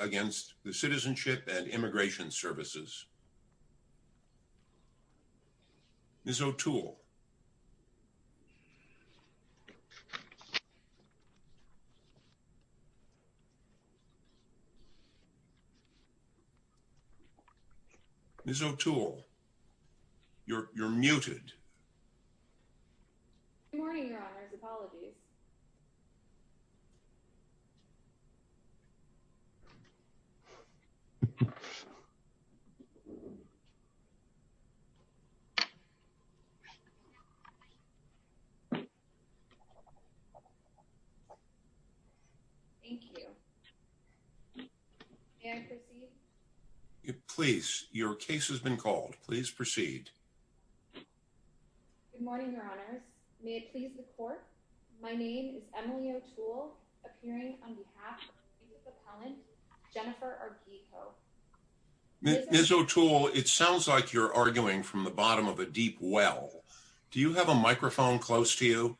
against the Citizenship and Immigration Services. Ms. O'Toole, Ms. O'Toole, you're muted. Good morning, Your Honors. Apologies. Thank you. May I proceed? Please. Your case has been called. Please proceed. Ms. O'Toole, it sounds like you're arguing from the bottom of a deep well. Do you have a microphone close to you?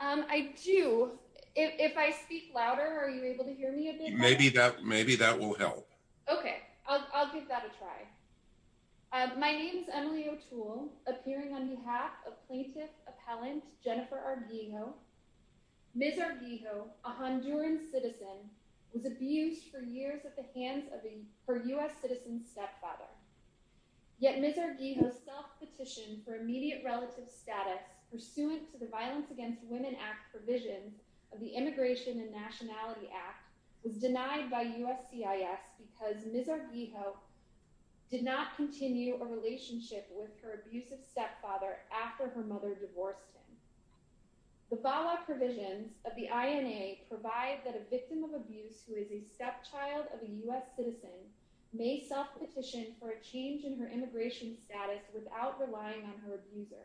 I do. If I speak louder, are you able to hear me? Maybe that will help. Okay, I'll give that a try. My name is Emily O'Toole, appearing on behalf of plaintiff appellant Jennifer Arguijo. Ms. Arguijo, a Honduran citizen, was abused for years at the hands of her U.S. citizen stepfather. Yet Ms. Arguijo's self-petition for immediate relative status, pursuant to the Violence Against Women Act provision of the Immigration and Nationality Act, was denied by USCIS because Ms. Arguijo did not continue a relationship with her abusive stepfather after her mother divorced him. The VAWA provisions of the INA provide that a victim of abuse who is a stepchild of a U.S. citizen may self-petition for a change in her immigration status without relying on her abuser.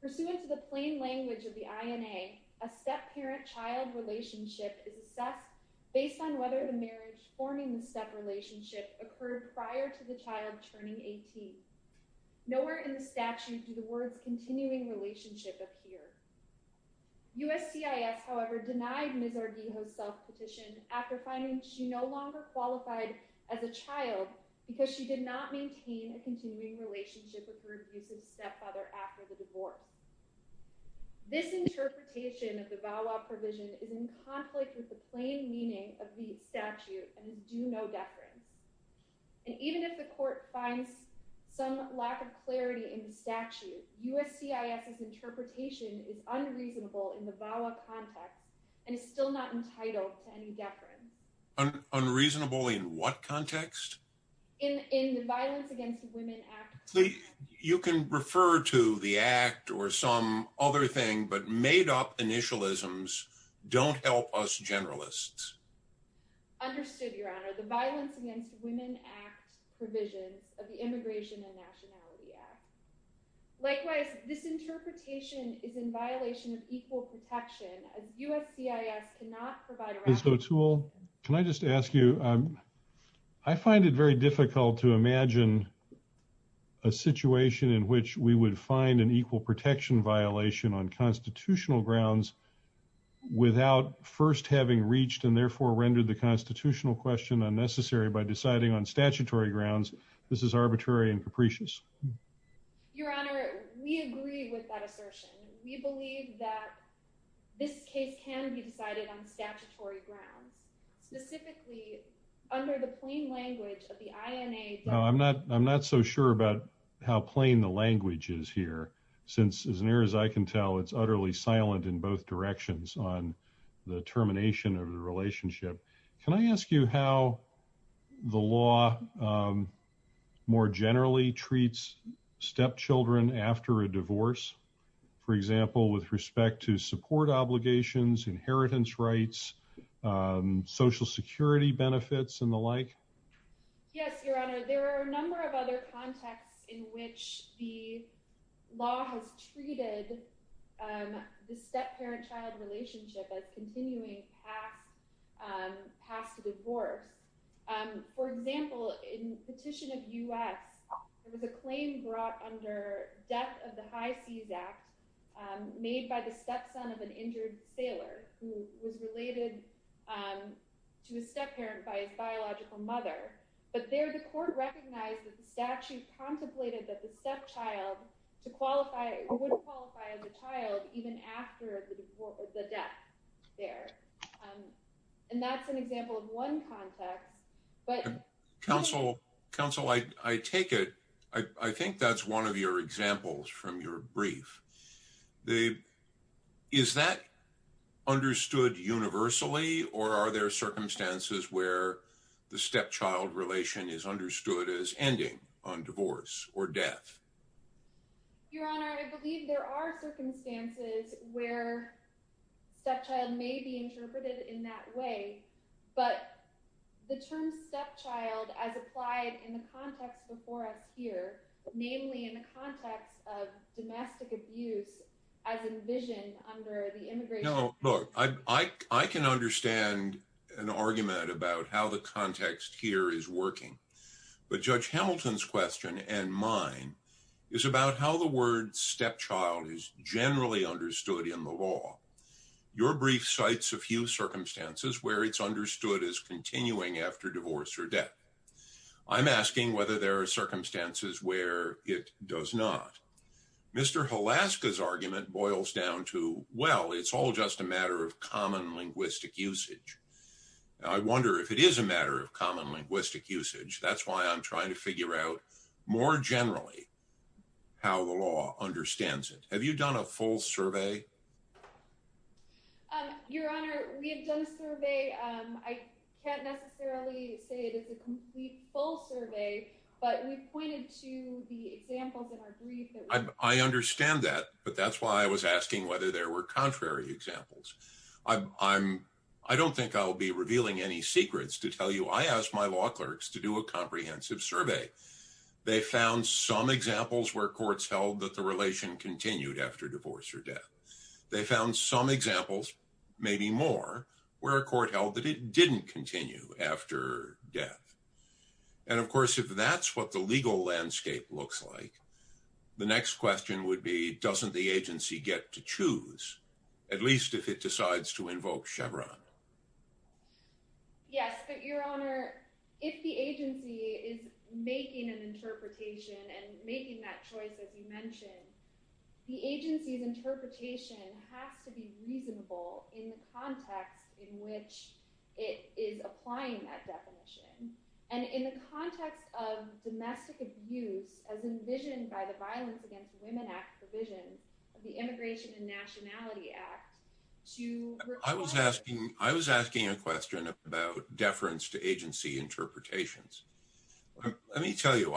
Pursuant to the plain language of the INA, a step-parent-child relationship is assessed based on whether the marriage forming the step-relationship occurred prior to the child turning 18. Nowhere in the statute do the words continuing relationship appear. USCIS, however, denied Ms. Arguijo's self-petition after finding she no longer qualified as a child because she did not maintain a continuing relationship with her abusive stepfather after the divorce. This interpretation of the VAWA provision is in conflict with the plain meaning of the statute and is due no deference. And even if the court finds some lack of clarity in the statute, USCIS's interpretation is unreasonable in the VAWA context and is still not entitled to any deference. Unreasonable in what context? In the Violence Against Women Act. You can refer to the Act or some other thing, but made-up initialisms don't help us generalists. Understood, Your Honor. The Violence Against Women Act provisions of the Immigration and Nationality Act. Likewise, this interpretation is in violation of equal protection as USCIS cannot provide... Ms. O'Toole, can I just ask you? I find it very difficult to imagine a situation in which we would find an equal protection violation on constitutional grounds without first having reached and therefore rendered the constitutional question unnecessary by deciding on statutory grounds. This is arbitrary and capricious. Your Honor, we agree with that assertion. We believe that this case can be decided on statutory grounds. Specifically, under the plain language of the INA... I'm not so sure about how plain the language is here, since as near as I can tell, it's utterly silent in both directions on the termination of the relationship. Can I ask you how the law more generally treats stepchildren after a divorce? For example, with respect to support obligations, inheritance rights, social security benefits, and the like? Yes, Your Honor. There are a number of other contexts in which the law has treated the step-parent-child relationship as continuing past a divorce. For example, in Petition of U.S., there was a claim brought under Death of the High Seas Act made by the stepson of an injured sailor who was related to a step-parent by his biological mother. But there, the court recognized that the statute contemplated that the stepchild would qualify as a child even after the death there. And that's an example of one context, but... Counsel, I take it... I think that's one of your examples from your brief. Is that understood universally, or are there circumstances where the stepchild relation is understood as ending on divorce or death? Your Honor, I believe there are circumstances where stepchild may be interpreted in that way, but the term stepchild as applied in the context before us here, namely in the context of domestic abuse, as envisioned under the immigration... ...is about how the word stepchild is generally understood in the law. Your brief cites a few circumstances where it's understood as continuing after divorce or death. I'm asking whether there are circumstances where it does not. Mr. Halaska's argument boils down to, well, it's all just a matter of common linguistic usage. I wonder if it is a matter of common linguistic usage. That's why I'm trying to figure out more generally how the law understands it. Have you done a full survey? Your Honor, we have done a survey. I can't necessarily say it is a complete, full survey, but we've pointed to the examples in our brief... I understand that, but that's why I was asking whether there were contrary examples. I don't think I'll be revealing any secrets to tell you. I asked my law clerks to do a comprehensive survey. They found some examples where courts held that the relation continued after divorce or death. They found some examples, maybe more, where a court held that it didn't continue after death. And, of course, if that's what the legal landscape looks like, the next question would be, doesn't the agency get to choose? At least if it decides to invoke Chevron. Yes, but, Your Honor, if the agency is making an interpretation and making that choice, as you mentioned, the agency's interpretation has to be reasonable in the context in which it is applying that definition. And in the context of domestic abuse, as envisioned by the Violence Against Women Act provision, the Immigration and Nationality Act, to... I was asking a question about deference to agency interpretations. Let me tell you,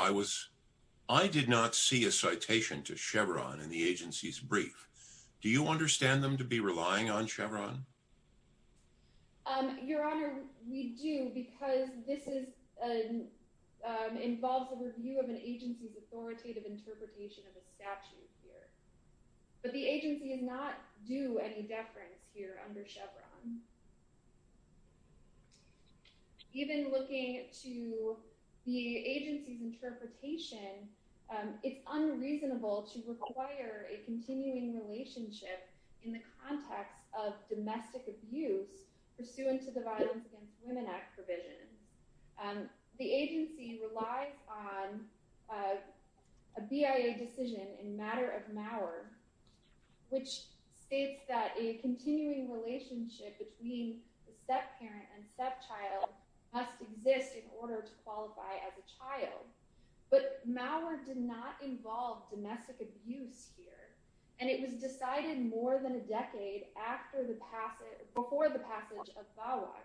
I did not see a citation to Chevron in the agency's brief. Do you understand them to be relying on Chevron? Your Honor, we do, because this involves a review of an agency's authoritative interpretation of a statute here. But the agency did not do any deference here under Chevron. Even looking to the agency's interpretation, it's unreasonable to require a continuing relationship in the context of domestic abuse pursuant to the Violence Against Women Act provision. The agency relies on a BIA decision in matter of Mauer, which states that a continuing relationship between the step-parent and step-child must exist in order to qualify as a child. But Mauer did not involve domestic abuse here, and it was decided more than a decade before the passage of VAWA.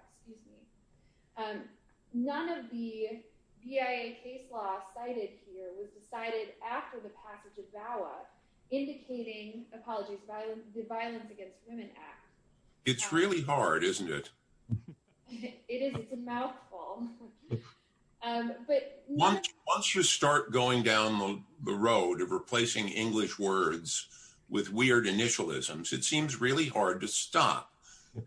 None of the BIA case law cited here was decided after the passage of VAWA, indicating the Violence Against Women Act. It's really hard, isn't it? It is. It's a mouthful. Once you start going down the road of replacing English words with weird initialisms, it seems really hard to stop.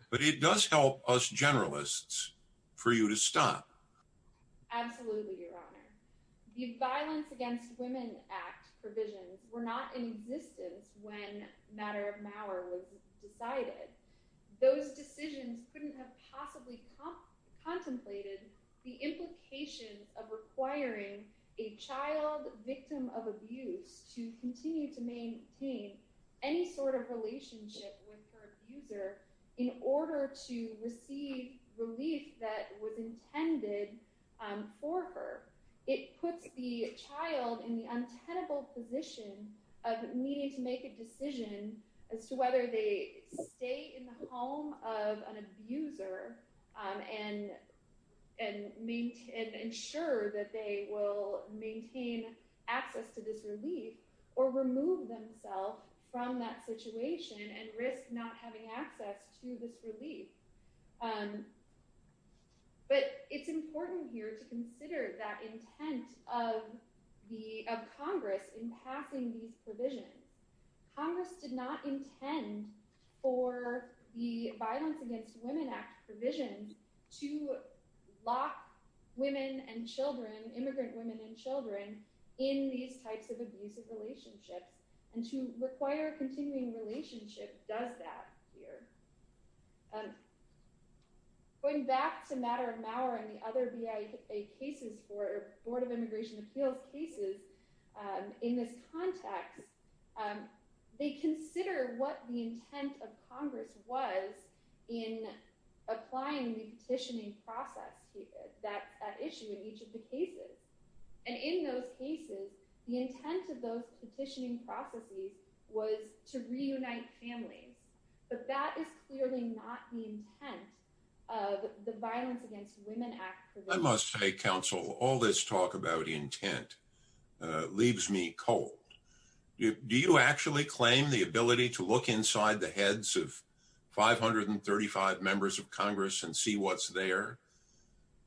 But it does help us generalists for you to stop. Absolutely, Your Honor. The Violence Against Women Act provisions were not in existence when matter of Mauer was decided. Those decisions couldn't have possibly contemplated the implication of requiring a child victim of abuse to continue to maintain any sort of relationship with her abuser in order to receive relief that was intended for her. It puts the child in the untenable position of needing to make a decision as to whether they stay in the home of an abuser and ensure that they will maintain access to this relief or remove themselves from that situation and risk not having access to this relief. But it's important here to consider that intent of Congress in passing these provisions. Congress did not intend for the Violence Against Women Act provision to lock immigrant women and children in these types of abusive relationships and to require a continuing relationship does that here. Going back to matter of Mauer and the other BIA cases for Board of Immigration Appeals cases in this context, they consider what the intent of Congress was in applying the petitioning process that issue in each of the cases. And in those cases, the intent of those petitioning processes was to reunite families. But that is clearly not the intent of the Violence Against Women Act. I must say, Counsel, all this talk about intent leaves me cold. Do you actually claim the ability to look inside the heads of 535 members of Congress and see what's there?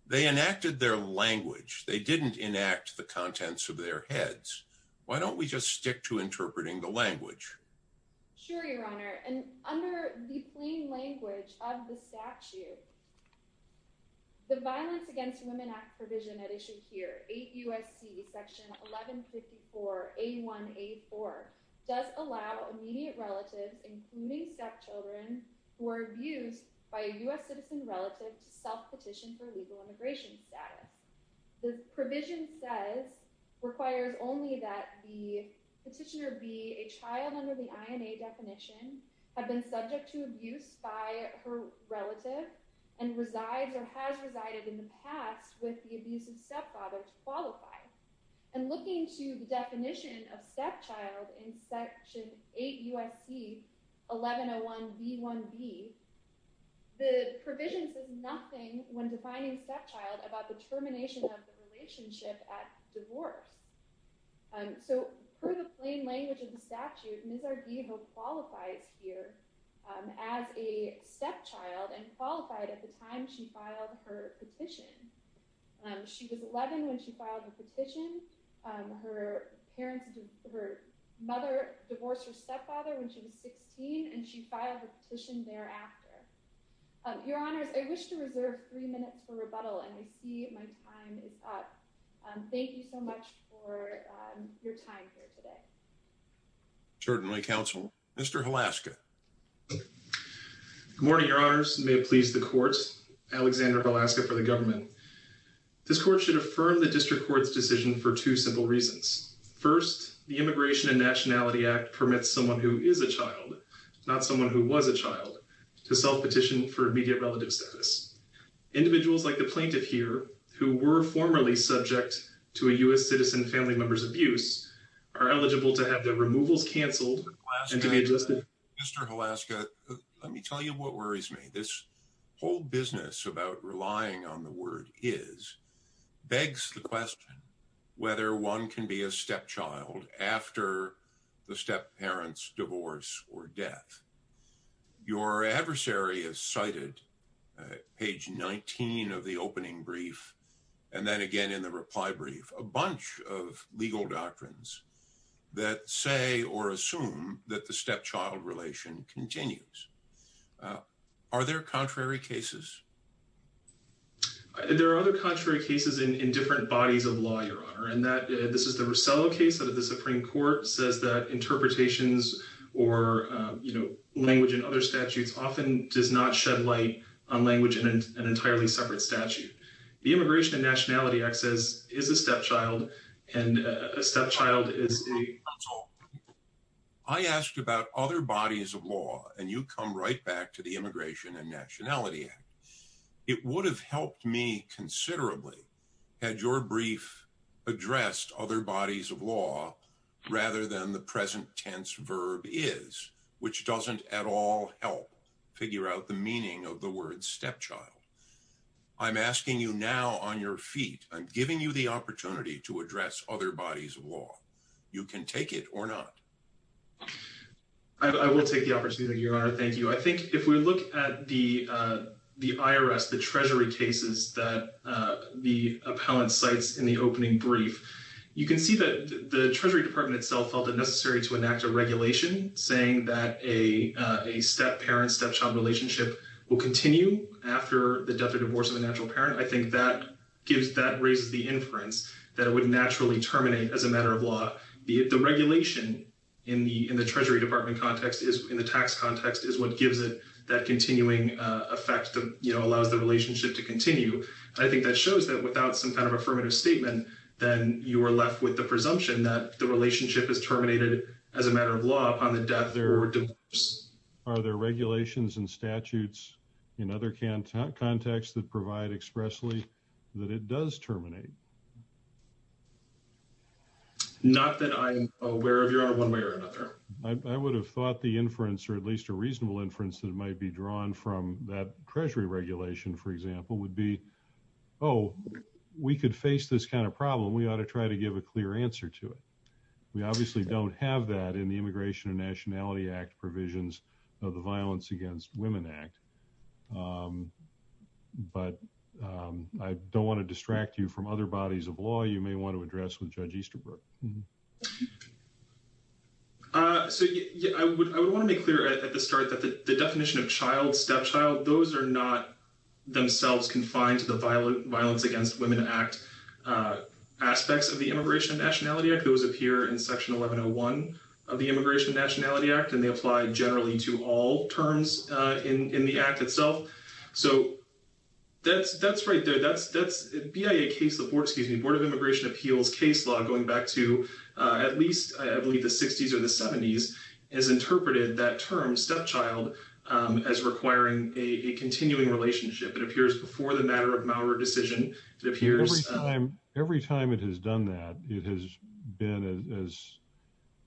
They enacted their language. They didn't enact the contents of their heads. Why don't we just stick to interpreting the language? Sure, Your Honor. And under the plain language of the statute, the Violence Against Women Act provision at issue here, 8 U.S.C. section 1154A1A4, does allow immediate relatives, including stepchildren, who are abused by a U.S. citizen relative to self-petition for legal immigration status. The provision says, requires only that the petitioner be a child under the INA definition, have been subject to abuse by her relative, and resides or has resided in the past with the abusive stepfather to qualify. And looking to the definition of stepchild in section 8 U.S.C. 1101B1B, the provision says nothing when defining stepchild about the termination of the relationship at divorce. So, per the plain language of the statute, Ms. Arguejo qualifies here as a stepchild and qualified at the time she filed her petition. She was 11 when she filed her petition. Her parents, her mother divorced her stepfather when she was 16, and she filed her petition thereafter. Your Honors, I wish to reserve three minutes for rebuttal, and I see my time is up. Thank you so much for your time here today. Certainly, Counsel. Mr. Velasca. Good morning, Your Honors. May it please the courts. Alexander Velasca for the government. This court should affirm the District Court's decision for two simple reasons. First, the Immigration and Nationality Act permits someone who is a child, not someone who was a child, to self-petition for immediate relative status. Individuals like the plaintiff here, who were formerly subject to a U.S. citizen family member's abuse, are eligible to have their removals canceled and to be adjusted. Mr. Velasca, let me tell you what worries me. This whole business about relying on the word is begs the question whether one can be a stepchild after the stepparents' divorce or death. Your adversary has cited, page 19 of the opening brief, and then again in the reply brief, a bunch of legal doctrines that say or assume that the stepchild relation continues. Are there contrary cases? There are other contrary cases in different bodies of law, Your Honor. This is the Rosello case. The Supreme Court says that interpretations or language in other statutes often does not shed light on language in an entirely separate statute. The Immigration and Nationality Act says, is a stepchild, and a stepchild is a... I asked about other bodies of law, and you come right back to the Immigration and Nationality Act. It would have helped me considerably had your brief addressed other bodies of law rather than the present tense verb is, which doesn't at all help figure out the meaning of the word stepchild. I'm asking you now on your feet. I'm giving you the opportunity to address other bodies of law. You can take it or not. I will take the opportunity, Your Honor. Thank you. I think if we look at the IRS, the Treasury cases that the appellant cites in the opening brief, you can see that the Treasury Department itself felt it necessary to enact a regulation saying that a stepparent-stepchild relationship will continue after the death or divorce of a natural parent. I think that raises the inference that it would naturally terminate as a matter of law. The regulation in the Treasury Department context, in the tax context, is what gives it that continuing effect that allows the relationship to continue. I think that shows that without some kind of affirmative statement, then you are left with the presumption that the relationship is terminated as a matter of law upon the death or divorce. Are there regulations and statutes in other contexts that provide expressly that it does terminate? Not that I'm aware of, Your Honor, one way or another. I would have thought the inference, or at least a reasonable inference that might be drawn from that Treasury regulation, for example, would be, oh, we could face this kind of problem. We ought to try to give a clear answer to it. We obviously don't have that in the Immigration and Nationality Act provisions of the Violence Against Women Act. But I don't want to distract you from other bodies of law you may want to address with Judge Easterbrook. So I would want to make clear at the start that the definition of child, stepchild, those are not themselves confined to the Violence Against Women Act aspects of the Immigration and Nationality Act. Those appear in Section 1101 of the Immigration and Nationality Act, and they apply generally to all terms in the Act itself. So that's right there. BIA case law, excuse me, Board of Immigration Appeals case law, going back to at least, I believe, the 60s or the 70s, has interpreted that term stepchild as requiring a continuing relationship. It appears before the matter of malware decision. Every time it has done that, it has been, as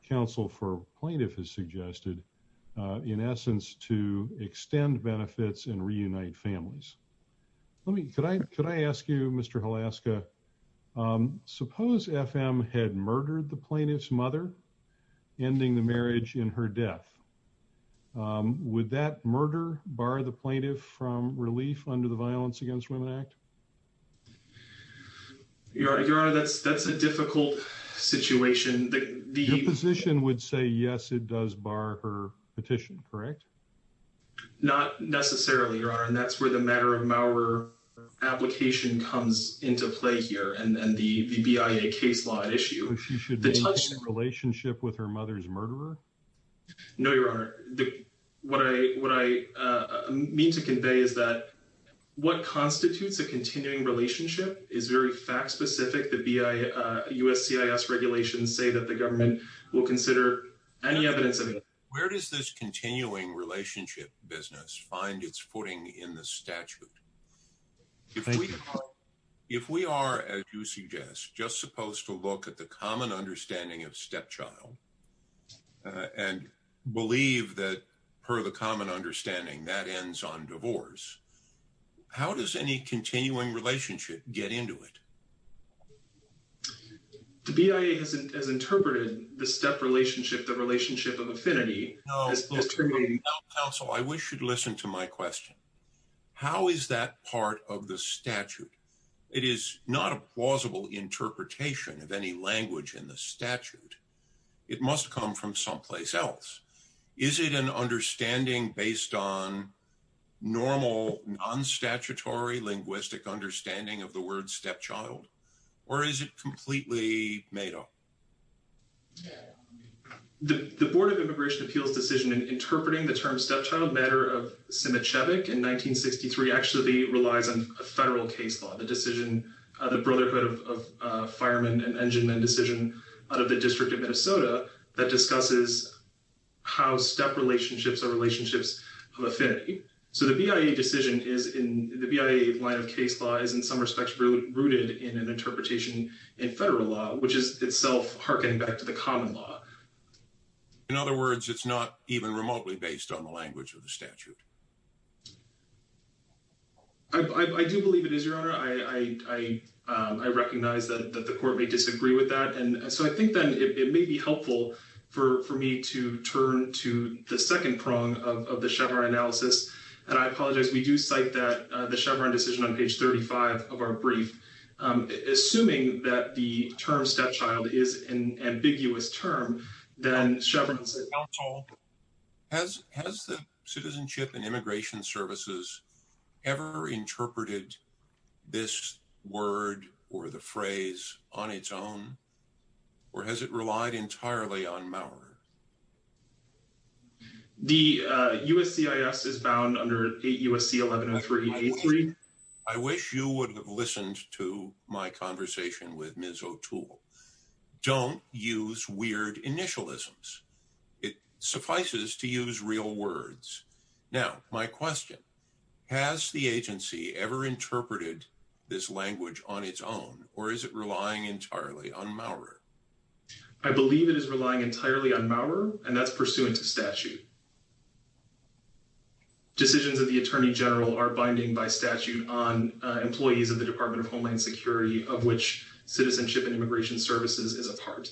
counsel for plaintiff has suggested, in essence, to extend benefits and reunite families. Let me, could I ask you, Mr. Hlaska, suppose FM had murdered the plaintiff's mother, ending the marriage in her death. Would that murder bar the plaintiff from relief under the Violence Against Women Act? Your Honor, that's a difficult situation. Your position would say, yes, it does bar her petition, correct? Not necessarily, Your Honor, and that's where the matter of malware application comes into play here, and then the BIA case law issue. But she should be in a relationship with her mother's murderer? No, Your Honor. What I mean to convey is that what constitutes a continuing relationship is very fact specific. The USCIS regulations say that the government will consider any evidence of it. Where does this continuing relationship business find its footing in the statute? Thank you, Your Honor. If we are, as you suggest, just supposed to look at the common understanding of stepchild and believe that, per the common understanding, that ends on divorce, how does any continuing relationship get into it? The BIA has interpreted the step relationship, the relationship of affinity as terminating. Counsel, I wish you'd listen to my question. How is that part of the statute? It is not a plausible interpretation of any language in the statute. It must come from someplace else. Is it an understanding based on normal, non-statutory linguistic understanding of the word stepchild? Or is it completely made up? The Board of Immigration Appeals decision in interpreting the term stepchild matter of Simichevich in 1963 actually relies on a federal case law. The decision, the Brotherhood of Firemen and Enginemen decision out of the District of Minnesota that discusses how step relationships are relationships of affinity. So the BIA decision is, in the BIA line of case law, is in some respects rooted in an interpretation in federal law, which is itself harkening back to the common law. In other words, it's not even remotely based on the language of the statute. I do believe it is, Your Honor. I recognize that the court may disagree with that. And so I think that it may be helpful for me to turn to the second prong of the Chevron analysis. And I apologize. We do cite that the Chevron decision on page 35 of our brief. Assuming that the term stepchild is an ambiguous term, then Chevron's counsel has has the Citizenship and Immigration Services ever interpreted this word or the phrase on its own? Or has it relied entirely on Maurer? The USCIS is bound under USC 1103. I wish you would have listened to my conversation with Ms. O'Toole. Don't use weird initialisms. It suffices to use real words. Now, my question. Has the agency ever interpreted this language on its own or is it relying entirely on Maurer? I believe it is relying entirely on Maurer and that's pursuant to statute. Decisions of the Attorney General are binding by statute on employees of the Department of Homeland Security, of which Citizenship and Immigration Services is a part.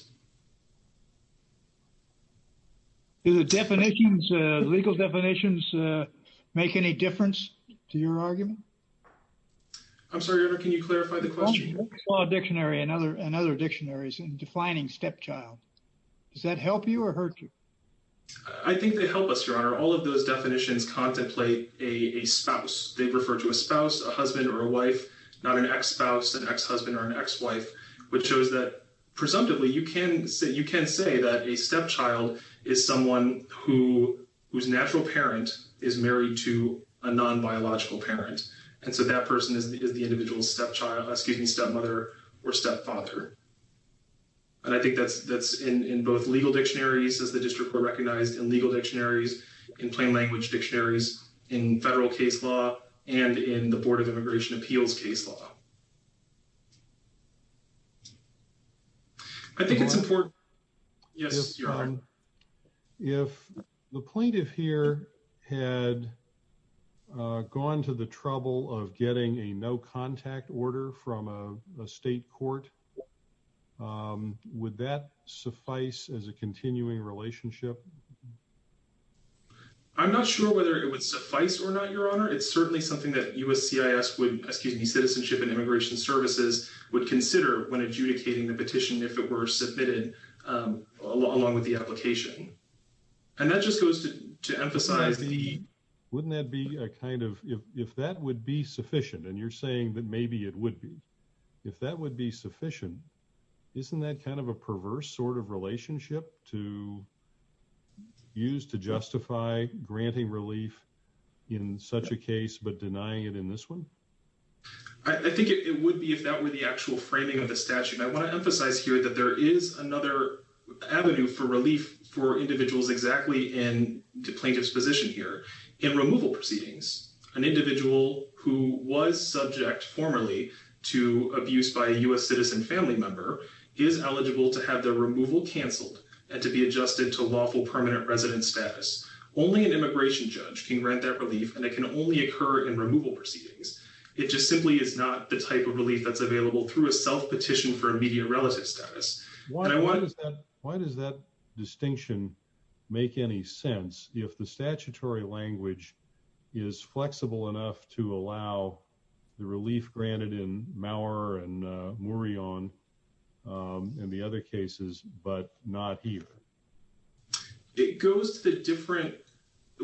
Do the definitions, legal definitions, make any difference to your argument? I'm sorry, Your Honor. Can you clarify the question? I saw a dictionary and other dictionaries in defining stepchild. Does that help you or hurt you? I think they help us, Your Honor. All of those definitions contemplate a spouse. They refer to a spouse, a husband or a wife, not an ex-spouse, an ex-husband or an ex-wife, which shows that, presumptively, you can say that a stepchild is someone whose natural parent is married to a non-biological parent. And so that person is the individual's stepchild, excuse me, stepmother or stepfather. And I think that's in both legal dictionaries, as the District Court recognized, in legal dictionaries, in plain language dictionaries, in federal case law and in the Board of Immigration Appeals case law. I think it's important. Yes, Your Honor. If the plaintiff here had gone to the trouble of getting a no-contact order from a state court, would that suffice as a continuing relationship? I'm not sure whether it would suffice or not, Your Honor. It's certainly something that USCIS would, excuse me, Citizenship and Immigration Services would consider when adjudicating the petition, if it were submitted along with the application. And that just goes to emphasize the... Wouldn't that be a kind of, if that would be sufficient, and you're saying that maybe it would be, if that would be sufficient, isn't that kind of a perverse sort of relationship to use to justify granting relief in such a case but denying it in this one? I think it would be if that were the actual framing of the statute. I want to emphasize here that there is another avenue for relief for individuals exactly in the plaintiff's position here in removal proceedings. An individual who was subject formerly to abuse by a U.S. citizen family member is eligible to have their removal canceled and to be adjusted to lawful permanent resident status. Only an immigration judge can grant that relief, and it can only occur in removal proceedings. It just simply is not the type of relief that's available through a self-petition for immediate relative status. Why does that distinction make any sense if the statutory language is flexible enough to allow the relief granted in Maurer and Murion and the other cases, but not here? It goes to the different,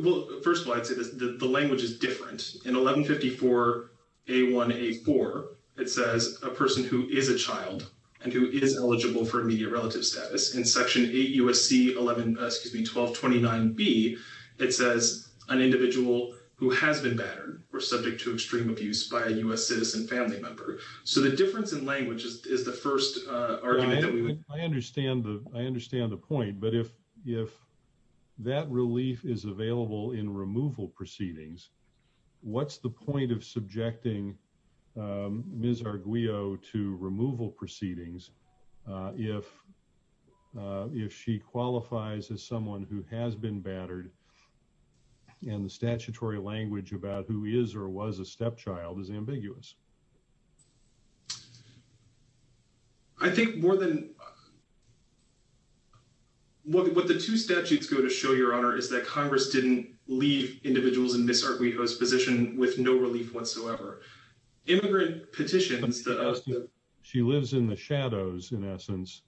well, first of all, I'd say that the language is different. In 1154A1A4, it says a person who is a child and who is eligible for immediate relative status. In Section 8 U.S.C. 11, excuse me, 1229B, it says an individual who has been battered or subject to extreme abuse by a U.S. citizen family member. So the difference in language is the first argument that we would. I understand the point, but if that relief is available in removal proceedings, what's the point of subjecting Ms. Arguello to removal proceedings if she qualifies as someone who has been battered and the statutory language about who is or was a stepchild is ambiguous? I think more than what the two statutes go to show, Your Honor, is that Congress didn't leave individuals in Ms. Arguello's position with no relief whatsoever. She lives in the shadows, in essence,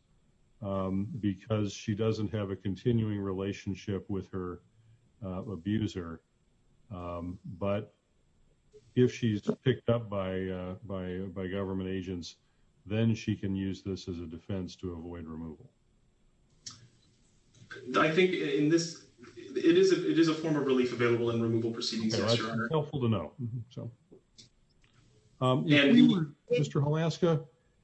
because she doesn't have a continuing relationship with her abuser. But if she's picked up by government agents, then she can use this as a defense to avoid removal. I think in this, it is a form of relief available in removal proceedings. Thank you, Your Honor. It's helpful to know. Mr. Holaska,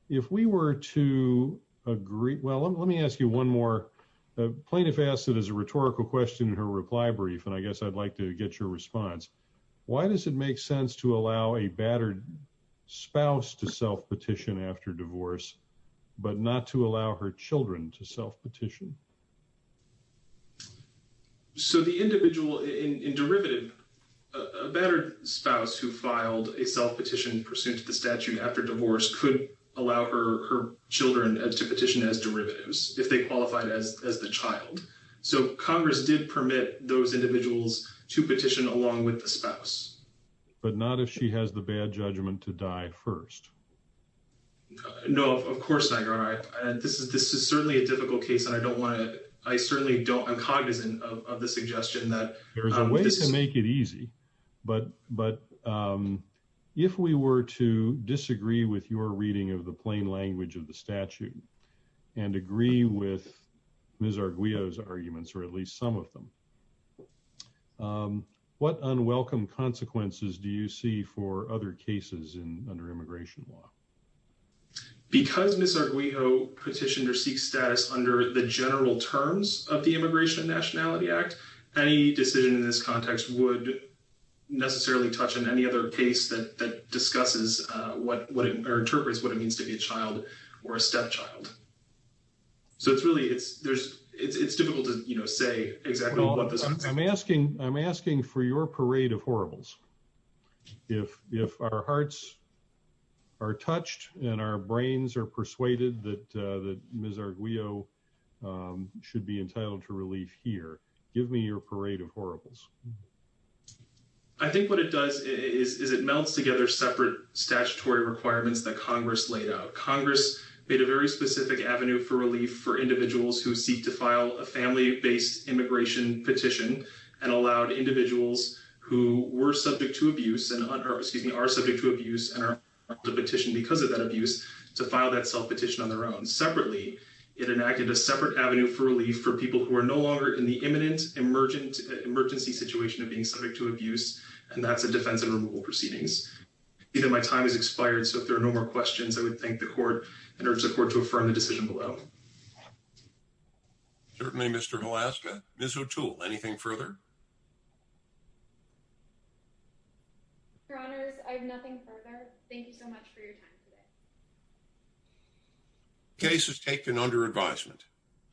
if we were to agree, well, let me ask you one more. A plaintiff asked it as a rhetorical question in her reply brief, and I guess I'd like to get your response. Why does it make sense to allow a battered spouse to self-petition after divorce, but not to allow her children to self-petition? So the individual in derivative, a battered spouse who filed a self-petition pursuant to the statute after divorce could allow her children to petition as derivatives if they qualified as the child. So Congress did permit those individuals to petition along with the spouse. But not if she has the bad judgment to die first. No, of course not, Your Honor. This is certainly a difficult case, and I don't want to – I certainly don't – I'm cognizant of the suggestion that – There's a way to make it easy. But if we were to disagree with your reading of the plain language of the statute and agree with Ms. Arguello's arguments, or at least some of them, what unwelcome consequences do you see for other cases under immigration law? Because Ms. Arguello petitioned her Sikh status under the general terms of the Immigration and Nationality Act, any decision in this context would necessarily touch on any other case that discusses what – or interprets what it means to be a child or a stepchild. So it's really – it's difficult to say exactly what this means. I'm asking for your parade of horribles. If our hearts are touched and our brains are persuaded that Ms. Arguello should be entitled to relief here, give me your parade of horribles. I think what it does is it melds together separate statutory requirements that Congress laid out. Congress made a very specific avenue for relief for individuals who seek to file a family-based immigration petition and allowed individuals who were subject to abuse – or, excuse me, are subject to abuse and are entitled to petition because of that abuse to file that self-petition on their own. Separately, it enacted a separate avenue for relief for people who are no longer in the imminent emergency situation of being subject to abuse, and that's a defense and removal proceedings. My time has expired, so if there are no more questions, I would thank the Court and urge the Court to affirm the decision below. Certainly, Mr. Hlaska. Ms. O'Toole, anything further? Your Honors, I have nothing further. Thank you so much for your time today. Case is taken under advisement.